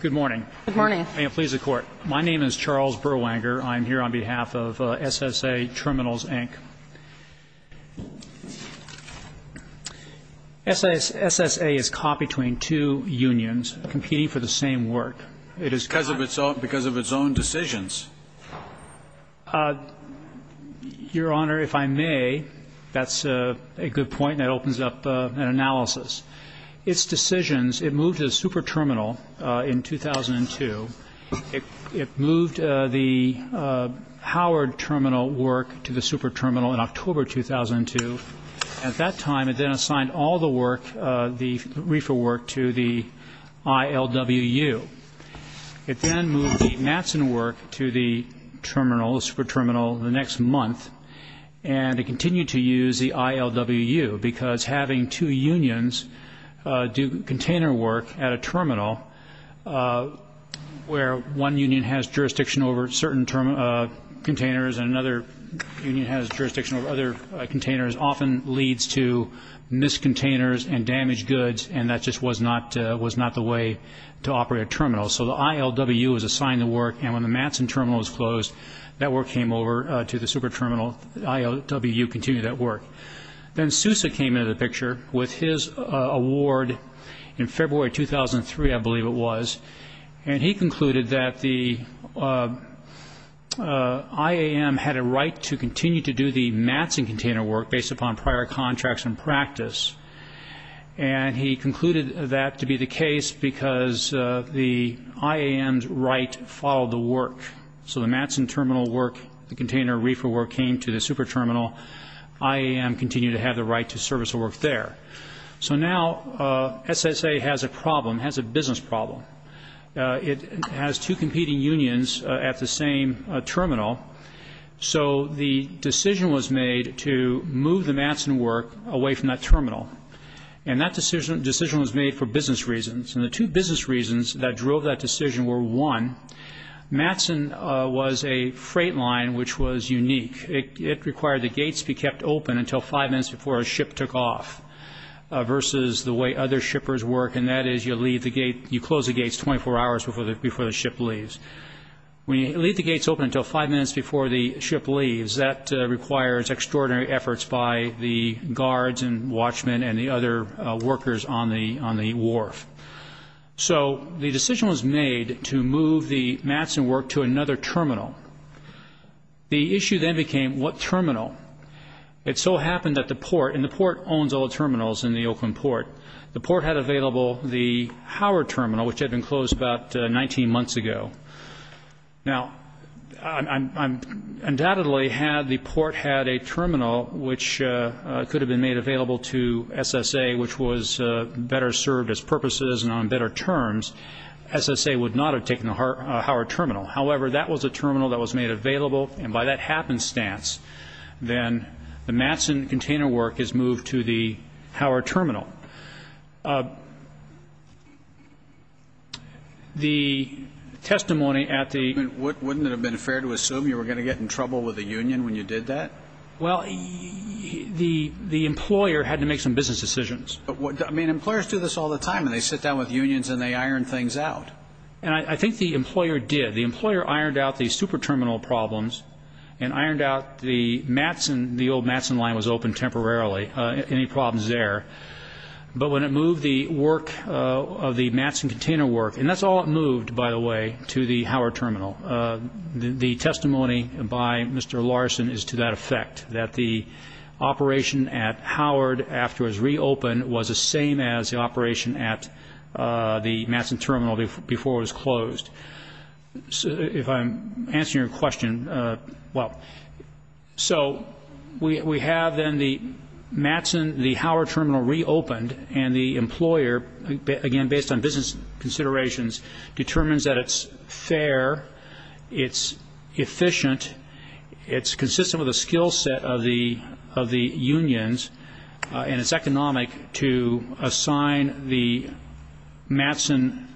Good morning. May it please the Court. My name is Charles Berwanger. I'm here on behalf of SSA Triminals, Inc. SSA is caught between two unions competing for the same work. It Your Honor, if I may, that's a good point and it opens up an analysis. Its decisions, it moved to the Superterminal in 2002. It moved the Howard Terminal work to the Superterminal in October 2002. At that time, it then assigned all the work, the RFRA work, to the ILWU. It then moved the Matson work to the Terminal, Superterminal, the next month and it continued to use the ILWU because having two unions do container work at a terminal where one union has jurisdiction over certain containers and another union has jurisdiction over other containers often leads to missed containers and damaged goods and that just was not the way to operate a terminal. So the ILWU was assigned the work and when the Matson Terminal was closed, that work came over to the Superterminal. The ILWU continued that work. Then Sousa came into the picture with his award in February 2003, I believe it was, and he concluded that the IAM had a right to continue to do the Matson container work based upon prior contracts and practice and he concluded that to be the case because the IAM's right followed the work. So the Matson Terminal work, the container RFRA work came to the Superterminal. IAM continued to have the right to service the work there. So now SSA has a problem, has a business problem. It has two competing unions at the same terminal so the decision was made to move the Matson work away from that terminal and that decision was made for business reasons and the two business reasons that drove that decision were one, Matson was a freight line which was unique. It required the gates be kept open until five minutes before a ship took off versus the way other shippers work and that is you leave the gate, you close the gates 24 hours before the ship leaves. When you leave the gates open until five minutes before the ship leaves, that requires extraordinary efforts by the guards and watchmen and the other workers on the on the wharf. So the decision was made to move the Matson work to another terminal. The issue then became what terminal. It so happened that the port, and the port owns all the terminals in the Oakland Port, the port had available the Howard Terminal which had been closed about 19 months ago. Now undoubtedly had the port had a terminal which could have been made available to SSA which was better served as purposes and on better terms, SSA would not have taken the Howard Terminal. However, that was a terminal that was made available and by that happenstance, then the Matson container work is moved to the Howard Terminal. The testimony at the Wouldn't it have been fair to assume you were going to get in trouble with the union when you did that? Well, the employer had to make some business decisions. I mean, employers do this all the time and they sit down with unions and they iron things out. And I think the employer did. The employer ironed out the super terminal problems and ironed out the Matson, the old Matson line was open temporarily, any problems there. But when it moved the work of the Matson container work, and that's all it moved, by the way, to the Howard Terminal. The testimony by Mr. Larson is to that effect, that the operation at Howard after it was reopened was the same as the operation at the Matson Terminal before it was closed. If I'm answering your question, well, so we have then the Matson, the Howard Terminal reopened and the employer, again based on business considerations, determines that it's fair, it's efficient, it's consistent with the skill set of the unions and it's economic to assign the Matson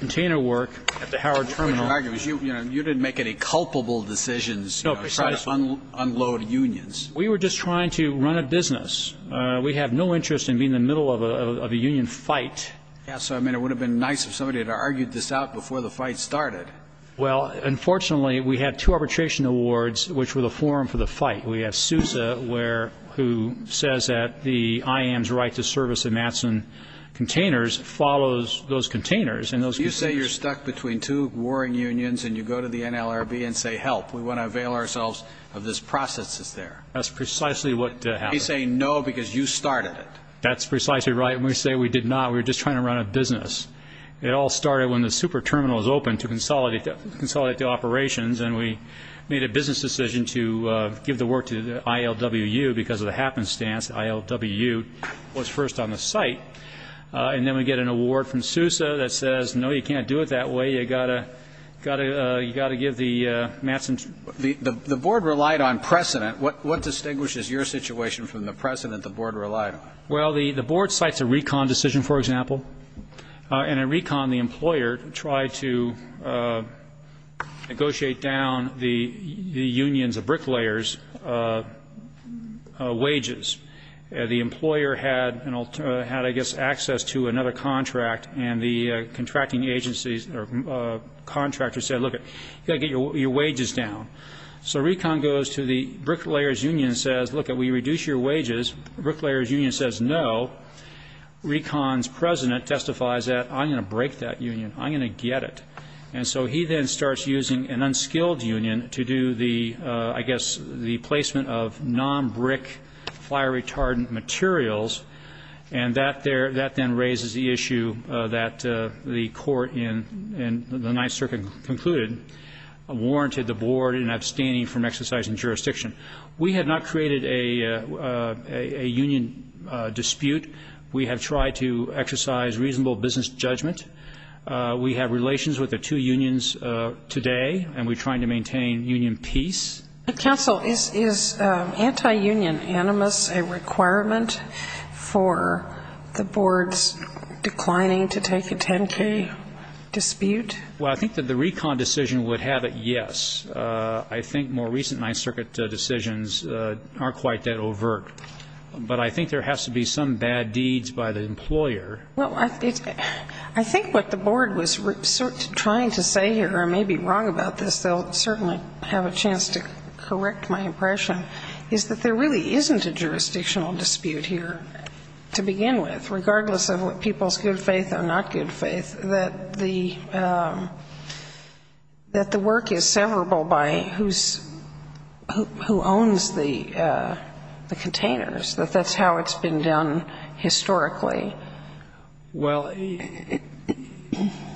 container work at the Howard Terminal. What you're arguing is you didn't make any culpable decisions trying to unload unions. No, precisely. We were just trying to run a business. We have no interest in being in the middle of a union fight. Yeah, so I mean it would have been nice if somebody had argued this out before the fight started. Well, unfortunately we had two arbitration awards which were the forum for the fight. We have Sousa who says that the IAM's right to service the Matson containers follows those containers. You say you're stuck between two warring unions and you go to the NLRB and say help, we want to avail ourselves of this process that's there. That's precisely what happened. They say no because you started it. That's precisely right. And we say we did not, we were just trying to run a business. It all started when the super terminal was opened to consolidate the operations and we made a business decision to give the work to ILWU because of the happenstance ILWU was first on the site. And then we get an award from Sousa that says no, you can't do it that way, you've got to give the Matson. The board relied on precedent. What distinguishes your situation from the precedent the board relied on? Well, the board cites a recon decision, for example. And in recon the employer tried to negotiate down the union's bricklayer's wages. The employer had, I guess, access to another contract and the contracting agency's contractor said look, you've got to get your wages down. So recon goes to the bricklayer's union and says look, we reduce your wages. The bricklayer's union says no. Recon's president testifies that I'm going to break that union. I'm going to get it. And so he then starts using an unskilled union to do the, I guess, the placement of non-brick fire retardant materials. And that then raises the issue that the court in the Ninth Circuit concluded warranted the board in abstaining from exercising jurisdiction. We have not created a union dispute. We have tried to exercise reasonable business judgment. We have relations with the two unions today and we're trying to maintain union peace. Counsel, is anti-union animus a requirement for the board's declining to take a 10-K dispute? Well, I think that the recon decision would have it, yes. I think more recent Ninth Circuit decisions aren't quite that overt. But I think there has to be some bad deeds by the employer. Well, I think what the board was trying to say here, and I may be wrong about this, they'll certainly have a chance to correct my impression, is that there really isn't a jurisdictional dispute here to begin with, who owns the containers, that that's how it's been done historically. Well,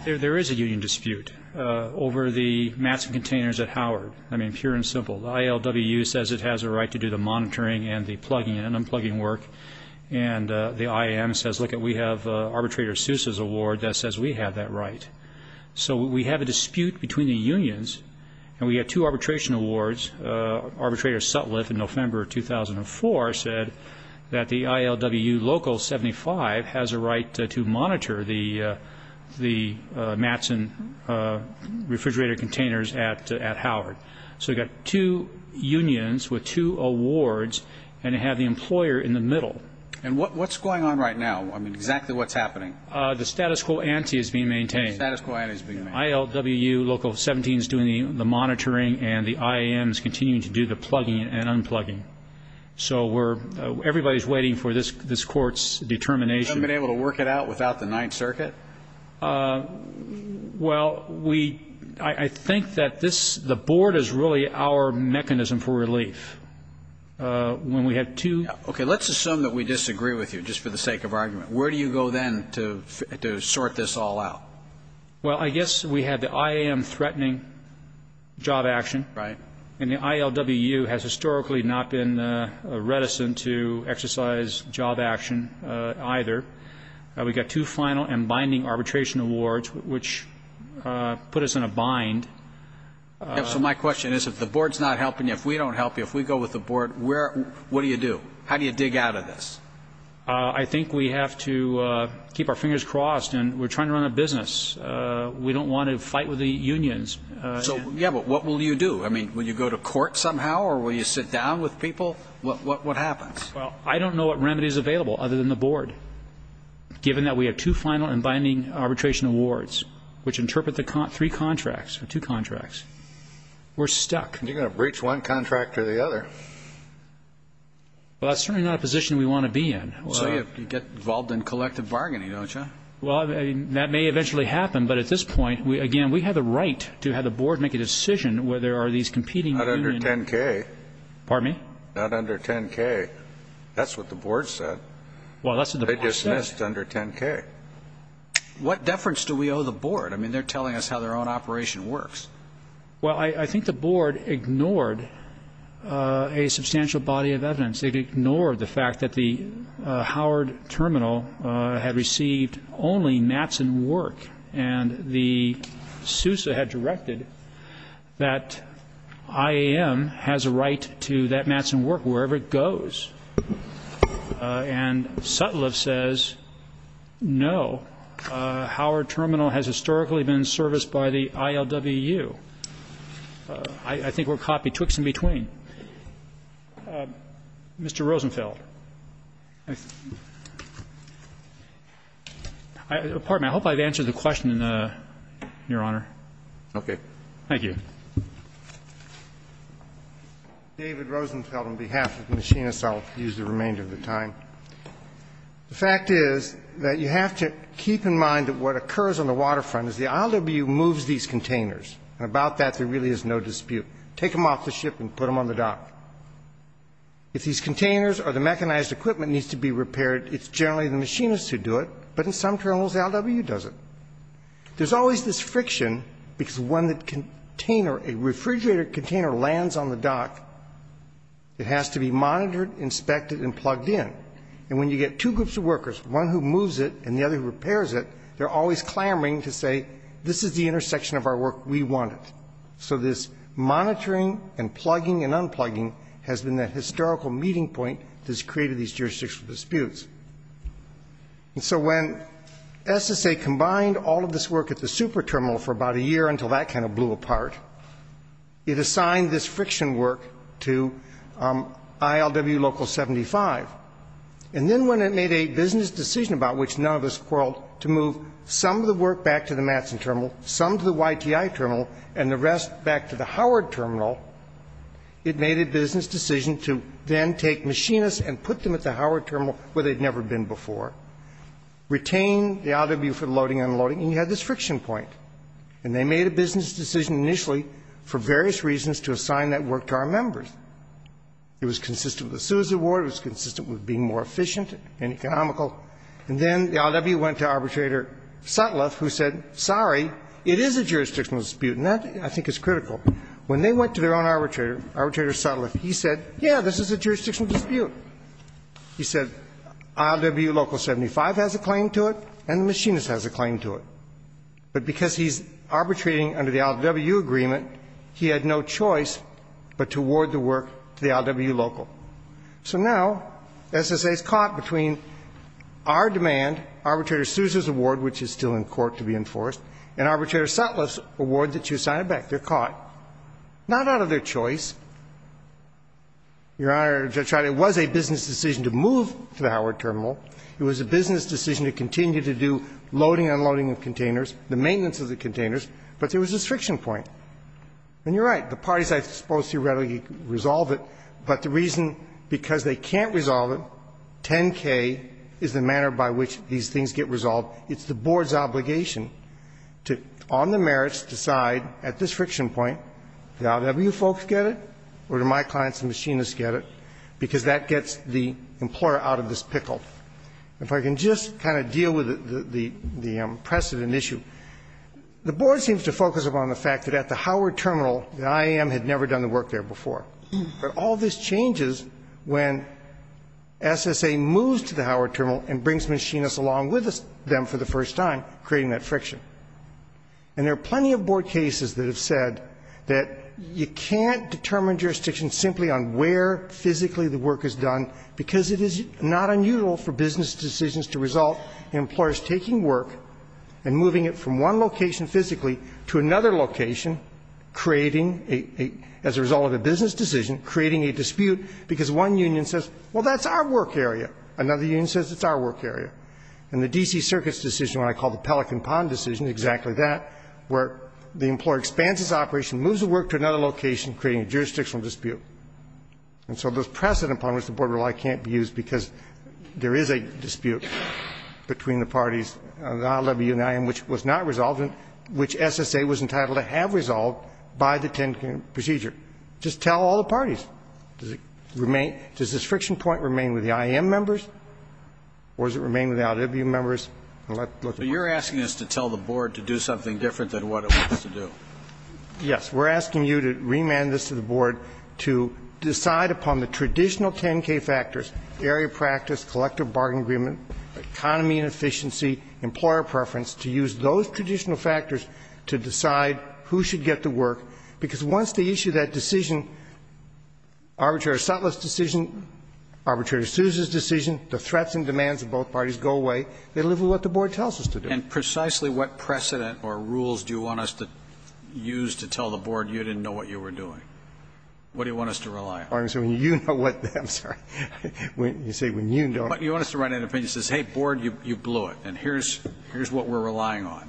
there is a union dispute over the mats and containers at Howard. I mean, pure and simple. The ILWU says it has a right to do the monitoring and the plugging and unplugging work. And the IAM says, lookit, we have Arbitrator Seuss's award that says we have that right. So we have a dispute between the unions, and we have two arbitration awards. Arbitrator Sutliff in November of 2004 said that the ILWU Local 75 has a right to monitor the mats and refrigerator containers at Howard. So you've got two unions with two awards, and you have the employer in the middle. And what's going on right now? I mean, exactly what's happening? The status quo ante is being maintained. The status quo ante is being maintained. ILWU Local 17 is doing the monitoring, and the IAM is continuing to do the plugging and unplugging. So everybody is waiting for this Court's determination. You haven't been able to work it out without the Ninth Circuit? Well, I think that the Board is really our mechanism for relief. When we have two ñ Okay, let's assume that we disagree with you, just for the sake of argument. Where do you go then to sort this all out? Well, I guess we have the IAM threatening job action. Right. And the ILWU has historically not been reticent to exercise job action either. We've got two final and binding arbitration awards, which put us in a bind. So my question is, if the Board's not helping you, if we don't help you, if we go with the Board, what do you do? How do you dig out of this? I think we have to keep our fingers crossed, and we're trying to run a business. We don't want to fight with the unions. So, yeah, but what will you do? I mean, will you go to court somehow, or will you sit down with people? What happens? Well, I don't know what remedy is available other than the Board, given that we have two final and binding arbitration awards, which interpret the three contracts, or two contracts. We're stuck. You're going to breach one contract or the other. Well, that's certainly not a position we want to be in. So you get involved in collective bargaining, don't you? Well, that may eventually happen, but at this point, again, we have the right to have the Board make a decision whether there are these competing unions. Not under 10-K. Pardon me? Not under 10-K. That's what the Board said. Well, that's what the Board said. They dismissed under 10-K. What deference do we owe the Board? I mean, they're telling us how their own operation works. Well, I think the Board ignored a substantial body of evidence. It ignored the fact that the Howard Terminal had received only mats and work, and the SUSA had directed that IAM has a right to that mats and work wherever it goes. And Sutliff says no. Howard Terminal has historically been serviced by the ILWU. I think we're caught betwixt and between. Mr. Rosenfeld. Pardon me. I hope I've answered the question, Your Honor. Okay. Thank you. David Rosenfeld on behalf of the machinists. I'll use the remainder of the time. The fact is that you have to keep in mind that what occurs on the waterfront is the ILWU moves these containers, and about that there really is no dispute. Take them off the ship and put them on the dock. If these containers or the mechanized equipment needs to be repaired, it's generally the machinists who do it, but in some terminals the ILWU does it. There's always this friction because when the container, a refrigerator container, lands on the dock, it has to be monitored, inspected, and plugged in. And when you get two groups of workers, one who moves it and the other who repairs it, they're always clamoring to say this is the intersection of our work, we want it. So this monitoring and plugging and unplugging has been the historical meeting point that's created these jurisdictional disputes. And so when SSA combined all of this work at the super terminal for about a year until that kind of blew apart, it assigned this friction work to ILWU Local 75. And then when it made a business decision about which none of us quarreled, to move some of the work back to the Matson terminal, some to the YTI terminal, and the rest back to the Howard terminal, it made a business decision to then take machinists and put them at the Howard terminal, where they'd never been before, retain the ILWU for loading and unloading, and you had this friction point. And they made a business decision initially for various reasons to assign that work to our members. It was consistent with the Seuss award. It was consistent with being more efficient and economical. And then the ILWU went to Arbitrator Sutliff, who said, sorry, it is a jurisdictional dispute, and that, I think, is critical. When they went to their own arbitrator, Arbitrator Sutliff, he said, yeah, this is a jurisdictional dispute. He said ILWU Local 75 has a claim to it, and the machinists has a claim to it. But because he's arbitrating under the ILWU agreement, he had no choice but to award the work to the ILWU Local. So now SSA is caught between our demand, Arbitrator Seuss's award, which is still in court to be enforced, and Arbitrator Sutliff's award that you assigned back. They're caught, not out of their choice. Your Honor, Judge Riley, it was a business decision to move to the Howard Terminal. It was a business decision to continue to do loading and unloading of containers, the maintenance of the containers, but there was this friction point. And you're right. The parties are supposed to readily resolve it, but the reason, because they can't resolve it, 10K is the manner by which these things get resolved. It's the Board's obligation to, on the merits, decide at this friction point, do the ILWU folks get it or do my clients and machinists get it, because that gets the employer out of this pickle. If I can just kind of deal with the precedent issue, the Board seems to focus upon the fact that at the Howard Terminal, the IAM had never done the work there before. But all this changes when SSA moves to the Howard Terminal and brings machinists along with them for the first time, creating that friction. And there are plenty of Board cases that have said that you can't determine jurisdiction simply on where physically the work is done, because it is not unusual for business decisions to result in employers taking work and moving it from one location physically to another location, creating, as a result of a business decision, creating a dispute, because one union says, well, that's our work area. Another union says, it's our work area. And the D.C. Circuit's decision, what I call the Pelican Pond decision, is exactly that, where the employer expands its operation, moves the work to another location, creating a jurisdictional dispute. And so this precedent upon which the Board relies can't be used because there is a dispute between the parties, the ILWU and the IAM, which was not resolved and which SSA was entitled to have resolved by the 10-point procedure. Just tell all the parties. Does this friction point remain with the IAM members, or does it remain with the ILWU members? And let's look at that. But you're asking us to tell the Board to do something different than what it wants to do. Yes. We're asking you to remand this to the Board to decide upon the traditional 10-K factors, area practice, collective bargain agreement, economy and efficiency, employer preference, to use those traditional factors to decide who should get the arbitrary Sutliff's decision, arbitrary Sousa's decision. The threats and demands of both parties go away. They live with what the Board tells us to do. And precisely what precedent or rules do you want us to use to tell the Board, you didn't know what you were doing? What do you want us to rely on? I'm sorry. You want us to write an opinion that says, hey, Board, you blew it, and here's what we're relying on.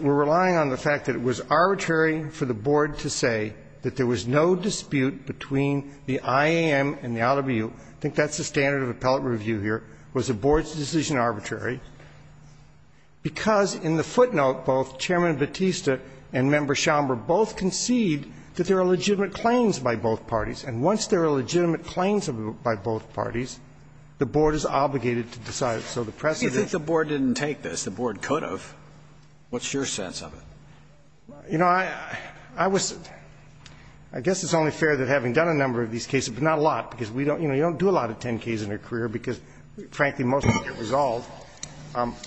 We're relying on the fact that it was arbitrary for the Board to say that there was no dispute between the IAM and the OWU. I think that's the standard of appellate review here, was the Board's decision arbitrary, because in the footnote, both Chairman Batista and Member Schomburg both concede that there are legitimate claims by both parties. And once there are legitimate claims by both parties, the Board is obligated to decide. So the precedent ---- You think the Board didn't take this. The Board could have. What's your sense of it? You know, I was ---- I guess it's only fair that having done a number of these cases, but not a lot, because we don't ---- you know, you don't do a lot of 10-Ks in your career, because, frankly, most of them get resolved.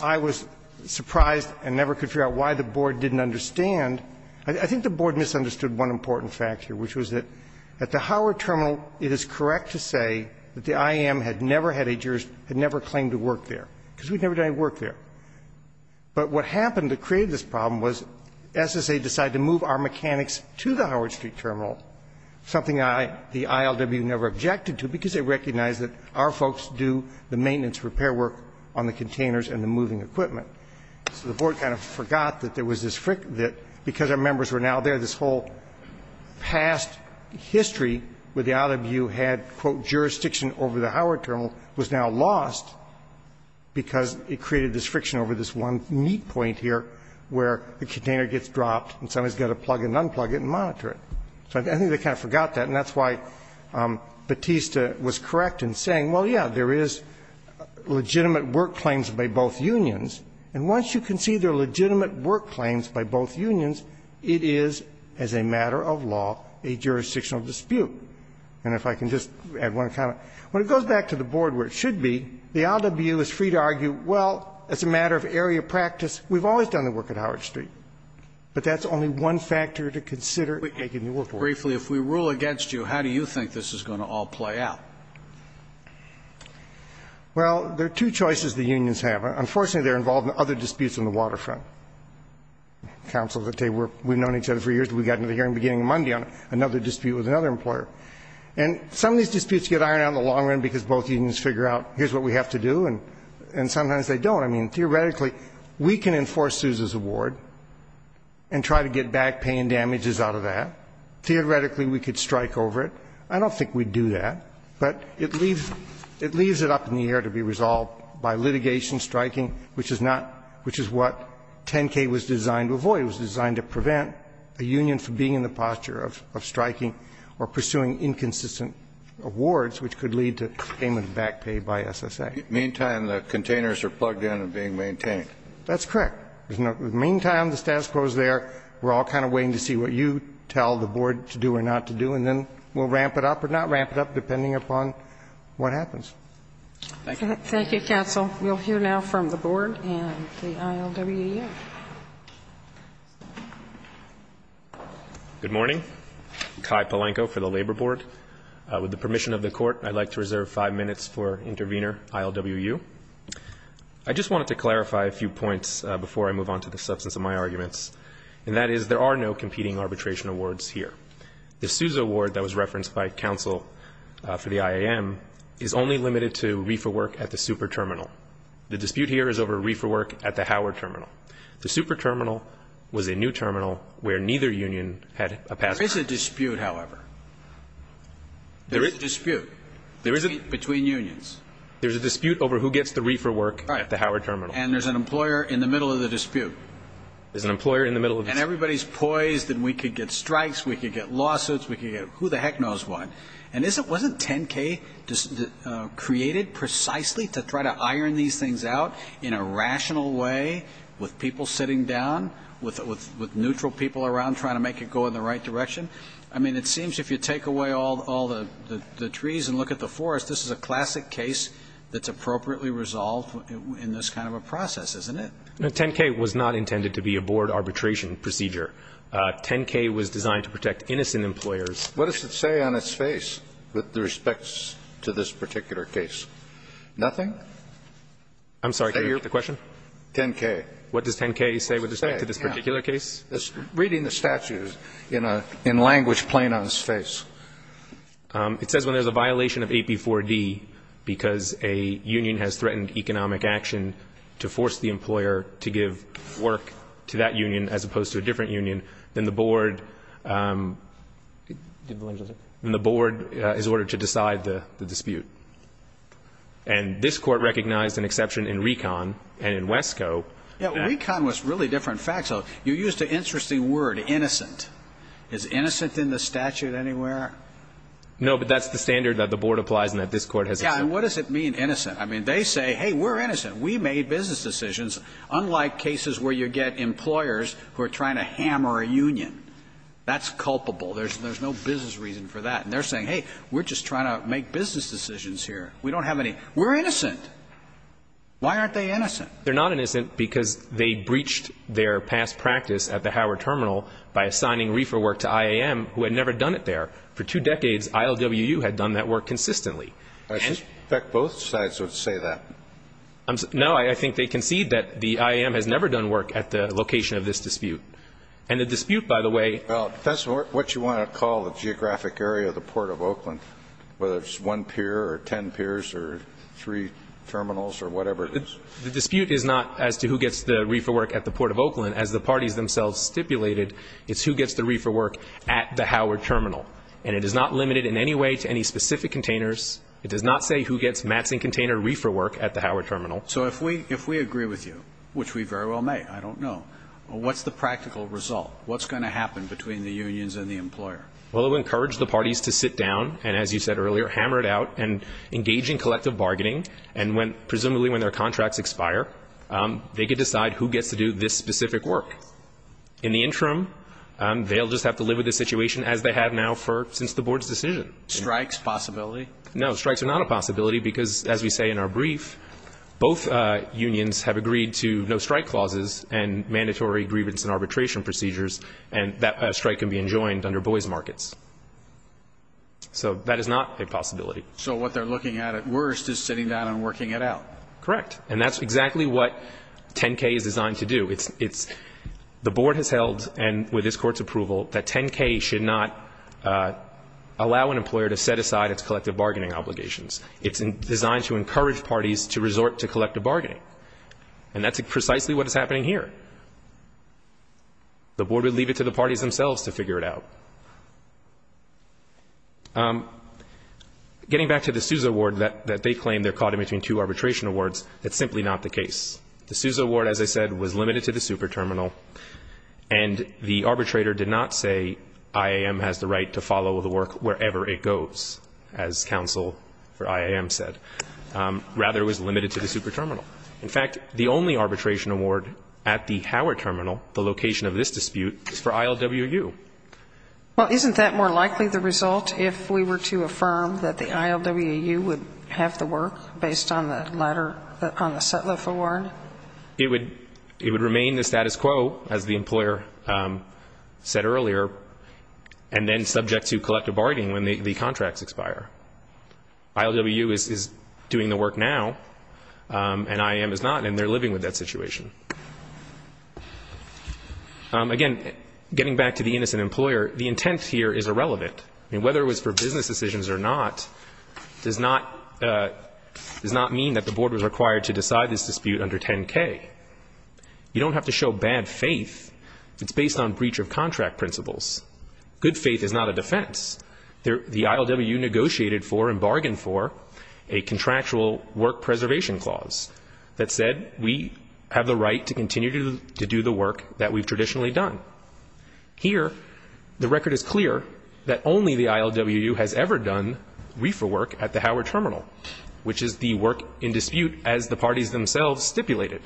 I was surprised and never could figure out why the Board didn't understand. I think the Board misunderstood one important fact here, which was that at the Howard Terminal, it is correct to say that the IAM had never had a jurors ---- had never claimed to work there, because we'd never done any work there. But what happened that created this problem was SSA decided to move our mechanics to the Howard Street Terminal, something the ILW never objected to, because they recognized that our folks do the maintenance, repair work on the containers and the moving equipment. So the Board kind of forgot that there was this ---- that because our members were now there, this whole past history with the ILW had, quote, jurisdiction over the one neat point here where the container gets dropped and somebody's got to plug and unplug it and monitor it. So I think they kind of forgot that, and that's why Batista was correct in saying, well, yeah, there is legitimate work claims by both unions, and once you can see there are legitimate work claims by both unions, it is, as a matter of law, a jurisdictional dispute. And if I can just add one comment. When it goes back to the Board where it should be, the ILW is free to argue, well, as a matter of area practice, we've always done the work at Howard Street, but that's only one factor to consider in making the work work. Scalia. Briefly, if we rule against you, how do you think this is going to all play out? Horwich. Well, there are two choices the unions have. Unfortunately, they're involved in other disputes on the waterfront. Counsel, we've known each other for years. We got into the hearing beginning Monday on another dispute with another employer. And some of these disputes get ironed out in the long run because both unions figure out here's what we have to do. And sometimes they don't. I mean, theoretically, we can enforce Sousa's award and try to get back pay and damages out of that. Theoretically, we could strike over it. I don't think we'd do that. But it leaves it up in the air to be resolved by litigation, striking, which is not what 10K was designed to avoid. It was designed to prevent a union from being in the posture of striking or pursuing inconsistent awards, which could lead to payment of back pay by SSA. In the meantime, the containers are plugged in and being maintained. That's correct. In the meantime, the status quo is there. We're all kind of waiting to see what you tell the board to do or not to do. And then we'll ramp it up or not ramp it up, depending upon what happens. Thank you. Thank you, counsel. We'll hear now from the board and the ILWU. Good morning. Kai Palenko for the Labor Board. With the permission of the Court, I'd like to reserve five minutes for Intervenor ILWU. I just wanted to clarify a few points before I move on to the substance of my arguments, and that is there are no competing arbitration awards here. The Sousa award that was referenced by counsel for the IAM is only limited to reefer work at the Super Terminal. The dispute here is over reefer work at the Howard Terminal. The Super Terminal was a new terminal where neither union had a password. There is a dispute, however. There is a dispute between unions. There's a dispute over who gets the reefer work at the Howard Terminal. And there's an employer in the middle of the dispute. There's an employer in the middle of the dispute. And everybody's poised that we could get strikes, we could get lawsuits, we could get who the heck knows what. And wasn't 10K created precisely to try to iron these things out in a rational way with people sitting down, with neutral people around trying to make it go in the right direction? I mean, it seems if you take away all the trees and look at the forest, this is a classic case that's appropriately resolved in this kind of a process, isn't it? No, 10K was not intended to be a board arbitration procedure. 10K was designed to protect innocent employers. What does it say on its face with respect to this particular case? Nothing? I'm sorry, can you repeat the question? 10K. What does 10K say with respect to this particular case? Reading the statute in language plain on its face. It says when there's a violation of AP4D because a union has threatened economic action to force the employer to give work to that union as opposed to a different union, then the board is ordered to decide the dispute. And this court recognized an exception in RECON and in WESCO. Yeah, RECON was really different facts. You used an interesting word, innocent. Is innocent in the statute anywhere? No, but that's the standard that the board applies and that this court has accepted. Yeah, and what does it mean, innocent? I mean, they say, hey, we're innocent. We made business decisions, unlike cases where you get employers who are trying to hammer a union. That's culpable. There's no business reason for that. And they're saying, hey, we're just trying to make business decisions here. We don't have any. We're innocent. Why aren't they innocent? They're not innocent because they breached their past practice at the Howard Terminal by assigning reefer work to IAM, who had never done it there. For two decades, ILWU had done that work consistently. I suspect both sides would say that. No, I think they concede that the IAM has never done work at the location of this dispute. And the dispute, by the way ---- Well, that's what you want to call the geographic area of the Port of Oakland, whether it's one pier or ten piers or three terminals or whatever it is. The dispute is not as to who gets the reefer work at the Port of Oakland. As the parties themselves stipulated, it's who gets the reefer work at the Howard Terminal. And it is not limited in any way to any specific containers. It does not say who gets mats and container reefer work at the Howard Terminal. So if we agree with you, which we very well may, I don't know, what's the practical result? What's going to happen between the unions and the employer? Well, it would encourage the parties to sit down and, as you said earlier, hammer it out and engage in collective bargaining. And presumably when their contracts expire, they could decide who gets to do this specific work. In the interim, they'll just have to live with the situation as they have now since the board's decision. Strikes possibility? No, strikes are not a possibility because, as we say in our brief, both unions have strike can be enjoined under boys markets. So that is not a possibility. So what they're looking at at worst is sitting down and working it out. Correct. And that's exactly what 10-K is designed to do. The board has held, and with this Court's approval, that 10-K should not allow an employer to set aside its collective bargaining obligations. It's designed to encourage parties to resort to collective bargaining. And that's precisely what is happening here. The board would leave it to the parties themselves to figure it out. Getting back to the Sousa Award that they claim they're caught in between two arbitration awards, that's simply not the case. The Sousa Award, as I said, was limited to the super terminal, and the arbitrator did not say IAM has the right to follow the work wherever it goes, as counsel for IAM said. Rather, it was limited to the super terminal. In fact, the only arbitration award at the Howard Terminal, the location of this dispute, is for ILWU. Well, isn't that more likely the result if we were to affirm that the ILWU would have the work based on the latter, on the Sutliff Award? It would remain the status quo, as the employer said earlier, and then subject to collective bargaining when the contracts expire. ILWU is doing the work now, and IAM is not, and they're living with that situation. Again, getting back to the innocent employer, the intent here is irrelevant. Whether it was for business decisions or not does not mean that the board was required to decide this dispute under 10-K. You don't have to show bad faith. It's based on breach of contract principles. Good faith is not a defense. The ILWU negotiated for and bargained for a contractual work preservation clause that said we have the right to continue to do the work that we've traditionally done. Here, the record is clear that only the ILWU has ever done reefer work at the Howard Terminal, which is the work in dispute as the parties themselves stipulated.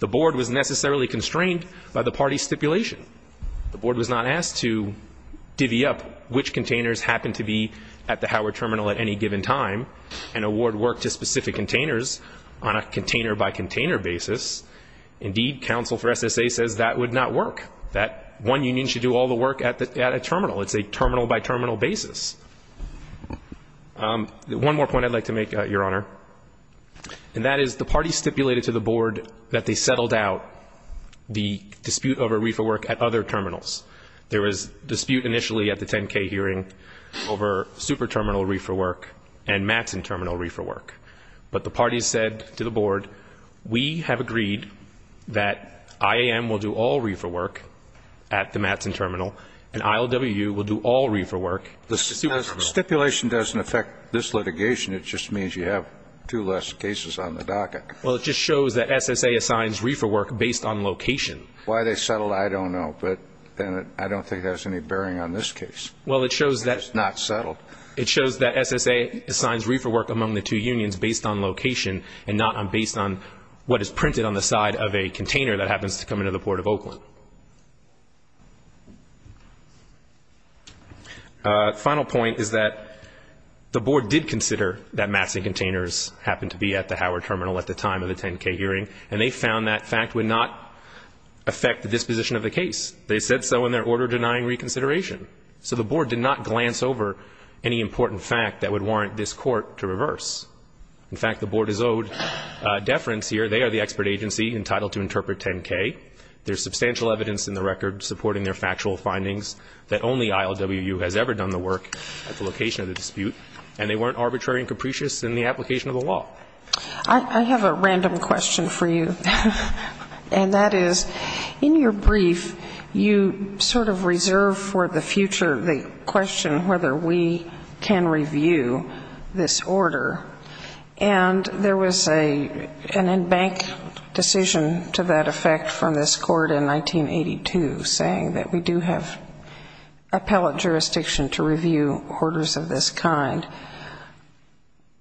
The board was necessarily constrained by the party stipulation. The board was not asked to divvy up which containers happened to be at the Howard Terminal at any given time and award work to specific containers on a container by container basis. Indeed, counsel for SSA says that would not work, that one union should do all the work at a terminal. It's a terminal by terminal basis. One more point I'd like to make, Your Honor, and that is the parties stipulated to the board that they settled out the dispute over reefer work at other terminals. There was dispute initially at the 10K hearing over super terminal reefer work and Mattson terminal reefer work. But the parties said to the board, we have agreed that IAM will do all reefer work at the Mattson terminal and ILWU will do all reefer work at the super terminal. The stipulation doesn't affect this litigation. It just means you have two less cases on the docket. Well, it just shows that SSA assigns reefer work based on location. Why they settled, I don't know. But I don't think it has any bearing on this case. Well, it shows that. It's not settled. It shows that SSA assigns reefer work among the two unions based on location and not based on what is printed on the side of a container that happens to come into the Port of Oakland. Final point is that the board did consider that Mattson containers happened to be at the Howard terminal at the time of the 10K hearing. And they found that fact would not affect the disposition of the case. They said so in their order denying reconsideration. So the board did not glance over any important fact that would warrant this court to reverse. In fact, the board is owed deference here. They are the expert agency entitled to interpret 10K. There is substantial evidence in the record supporting their factual findings that only ILWU has ever done the work at the location of the dispute. And they weren't arbitrary and capricious in the application of the law. I have a random question for you. And that is, in your brief, you sort of reserve for the future the question whether we can review this order. And there was an in-bank decision to that effect from this court in 1982 saying that we do have appellate jurisdiction to review orders of this kind.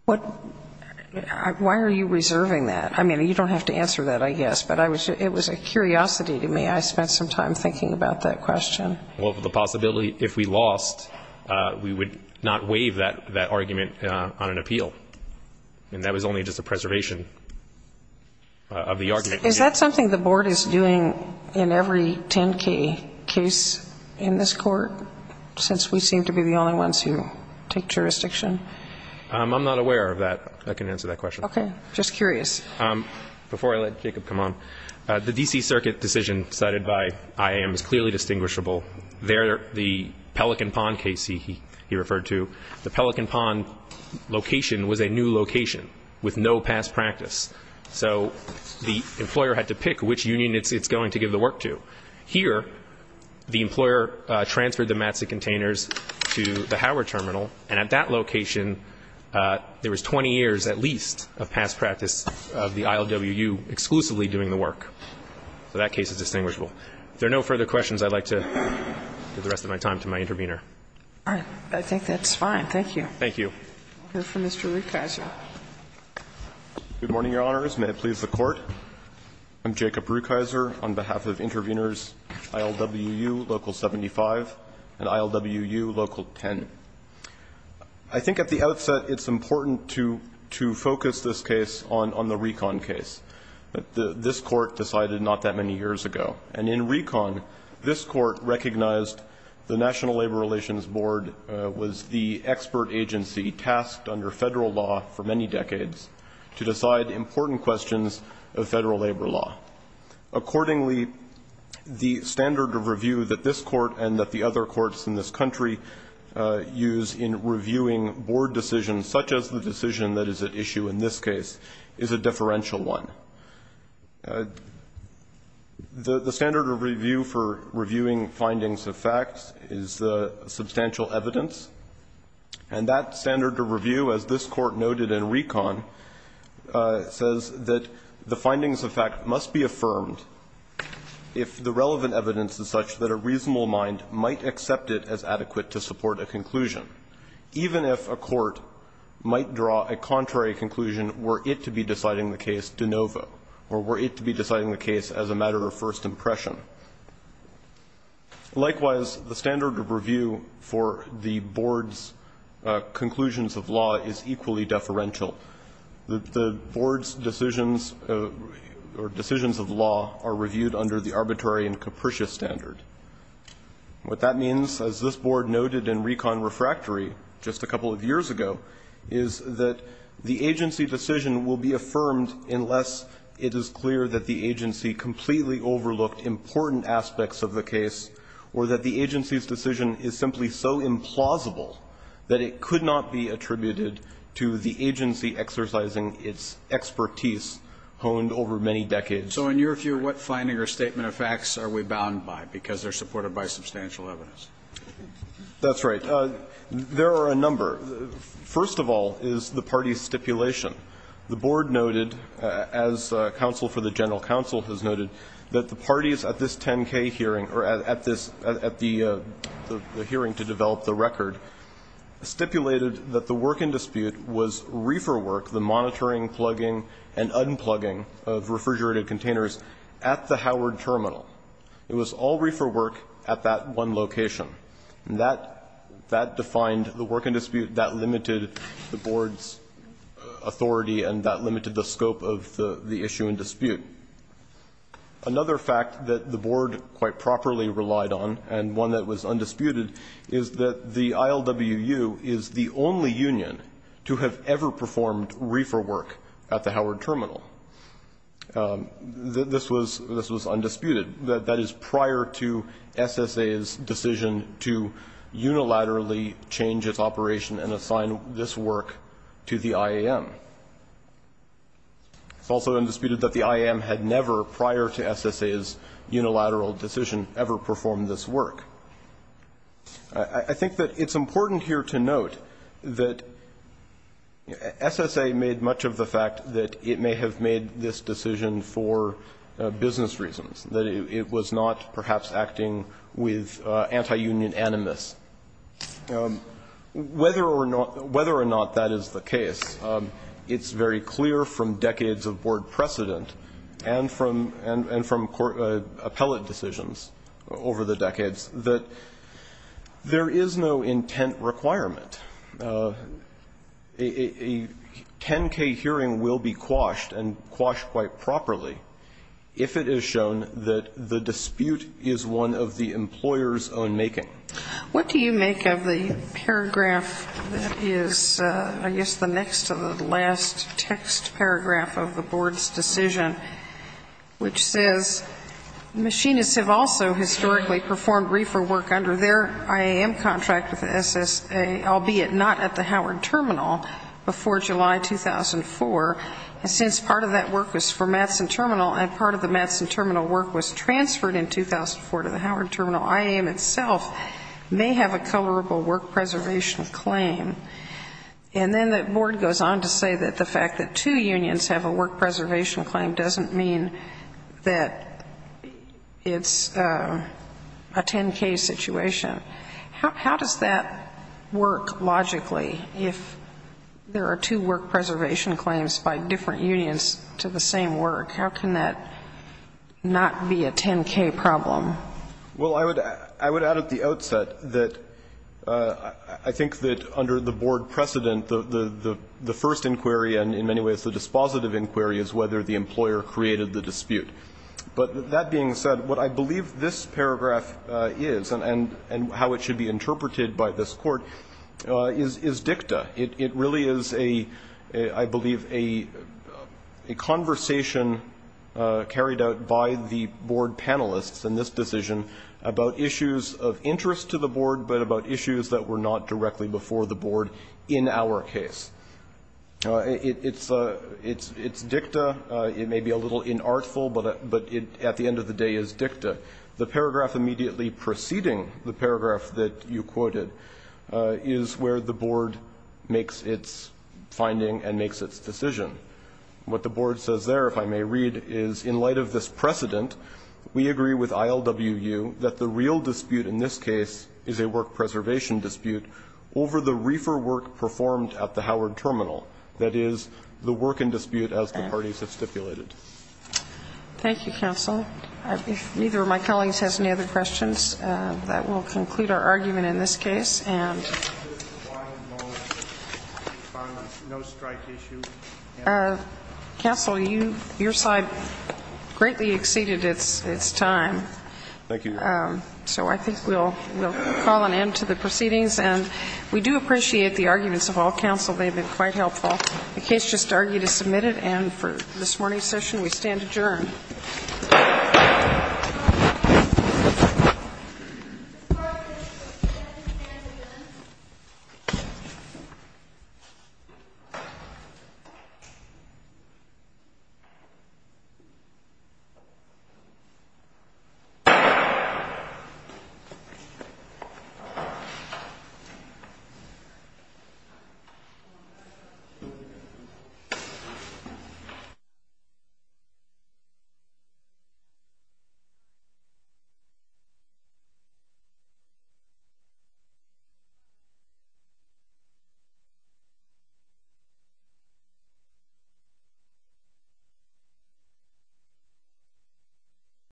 Why are you reserving that? I mean, you don't have to answer that, I guess. But it was a curiosity to me. I spent some time thinking about that question. Well, the possibility if we lost, we would not waive that argument on an appeal. And that was only just a preservation of the argument. Is that something the board is doing in every 10K case in this court, since we seem to be the only ones who take jurisdiction? I'm not aware of that. I can answer that question. Okay. Just curious. Before I let Jacob come on, the D.C. Circuit decision cited by IAM is clearly distinguishable. There, the Pelican Pond case he referred to, the Pelican Pond location was a new location with no past practice. So the employer had to pick which union it's going to give the work to. Here, the employer transferred the mats and containers to the Howard Terminal, and at that location, there was 20 years at least of past practice of the ILWU exclusively doing the work. So that case is distinguishable. If there are no further questions, I'd like to give the rest of my time to my intervener. All right. I think that's fine. Thank you. Thank you. We'll hear from Mr. Rukeyser. Good morning, Your Honors. May it please the Court. I'm Jacob Rukeyser on behalf of interveners ILWU Local 75 and ILWU Local 10. I think at the outset, it's important to focus this case on the Recon case. This Court decided not that many years ago. And in Recon, this Court recognized the National Labor Relations Board was the expert agency tasked under federal law for many decades to decide important questions of federal labor law. Accordingly, the standard of review that this Court and that the other courts in this country use in reviewing board decisions, such as the decision that is at issue in this case, is a differential one. The standard of review for reviewing findings of facts is substantial evidence. And that standard of review, as this Court noted in Recon, says that the findings of fact must be affirmed if the relevant evidence is such that a reasonable mind might accept it as adequate to support a conclusion, even if a court might draw a contrary conclusion were it to be deciding the case de novo or were it to be deciding the case as a matter of first impression. Likewise, the standard of review for the board's conclusions of law is equally deferential. The board's decisions or decisions of law are reviewed under the arbitrary and capricious standard. What that means, as this board noted in Recon Refractory just a couple of years ago, is that the agency decision will be affirmed unless it is clear that the agency completely overlooked important aspects of the case or that the agency's decision is simply so implausible that it could not be attributed to the agency exercising its expertise honed over many decades. So in your view, what finding or statement of facts are we bound by because they're supported by substantial evidence? That's right. There are a number. First of all is the party's stipulation. The board noted, as counsel for the general counsel has noted, that the parties at this 10K hearing or at this at the hearing to develop the record stipulated that the work in dispute was reefer work, the monitoring, plugging, and unplugging of refrigerated containers at the Howard Terminal. It was all reefer work at that one location. And that defined the work in dispute, that limited the board's authority, and that limited the scope of the issue in dispute. Another fact that the board quite properly relied on and one that was undisputed is that the ILWU is the only union to have ever performed reefer work at the Howard Terminal. This was undisputed. That is prior to SSA's decision to unilaterally change its operation and assign this work to the IAM. It's also undisputed that the IAM had never, prior to SSA's unilateral decision, ever performed this work. I think that it's important here to note that SSA made much of the fact that it may have made this decision for business reasons, that it was not, perhaps, acting with anti-union animus. Whether or not that is the case, it's very clear from decades of board precedent and from appellate decisions over the decades that there is no intent requirement. A 10-K hearing will be quashed and quashed quite properly if it is shown that the dispute is one of the employer's own making. What do you make of the paragraph that is, I guess, the next to the last text paragraph of the board's decision, which says, Machinists have also historically performed reefer work under their IAM contract with the SSA, albeit not at the Howard Terminal, before July 2004. And since part of that work was for Mattson Terminal and part of the Mattson Terminal work was transferred in 2004 to the Howard Terminal, IAM itself may have a colorable work preservation claim. And then the board goes on to say that the fact that two unions have a work preservation claim means that it's a 10-K situation. How does that work logically if there are two work preservation claims by different unions to the same work? How can that not be a 10-K problem? Well, I would add at the outset that I think that under the board precedent, the first inquiry, and in many ways the dispositive inquiry, is whether the employer created the dispute. But that being said, what I believe this paragraph is and how it should be interpreted by this court is dicta. It really is, I believe, a conversation carried out by the board panelists in this decision about issues of interest to the board but about issues that were not directly before the board in our case. It's dicta. It may be a little inartful, but at the end of the day it's dicta. The paragraph immediately preceding the paragraph that you quoted is where the board makes its finding and makes its decision. What the board says there, if I may read, is in light of this precedent, we agree with ILWU that the real dispute in this case is a work preservation dispute over the reefer work performed at the Howard Terminal. That is, the work in dispute as the parties have stipulated. Thank you, counsel. If neither of my colleagues has any other questions, that will conclude our argument in this case. Counsel, your side greatly exceeded its time. Thank you, Your Honor. So I think we'll call an end to the proceedings. And we do appreciate the arguments of all counsel. They've been quite helpful. The case just argued is submitted. And for this morning's session, we stand adjourned. Thank you. Thank you.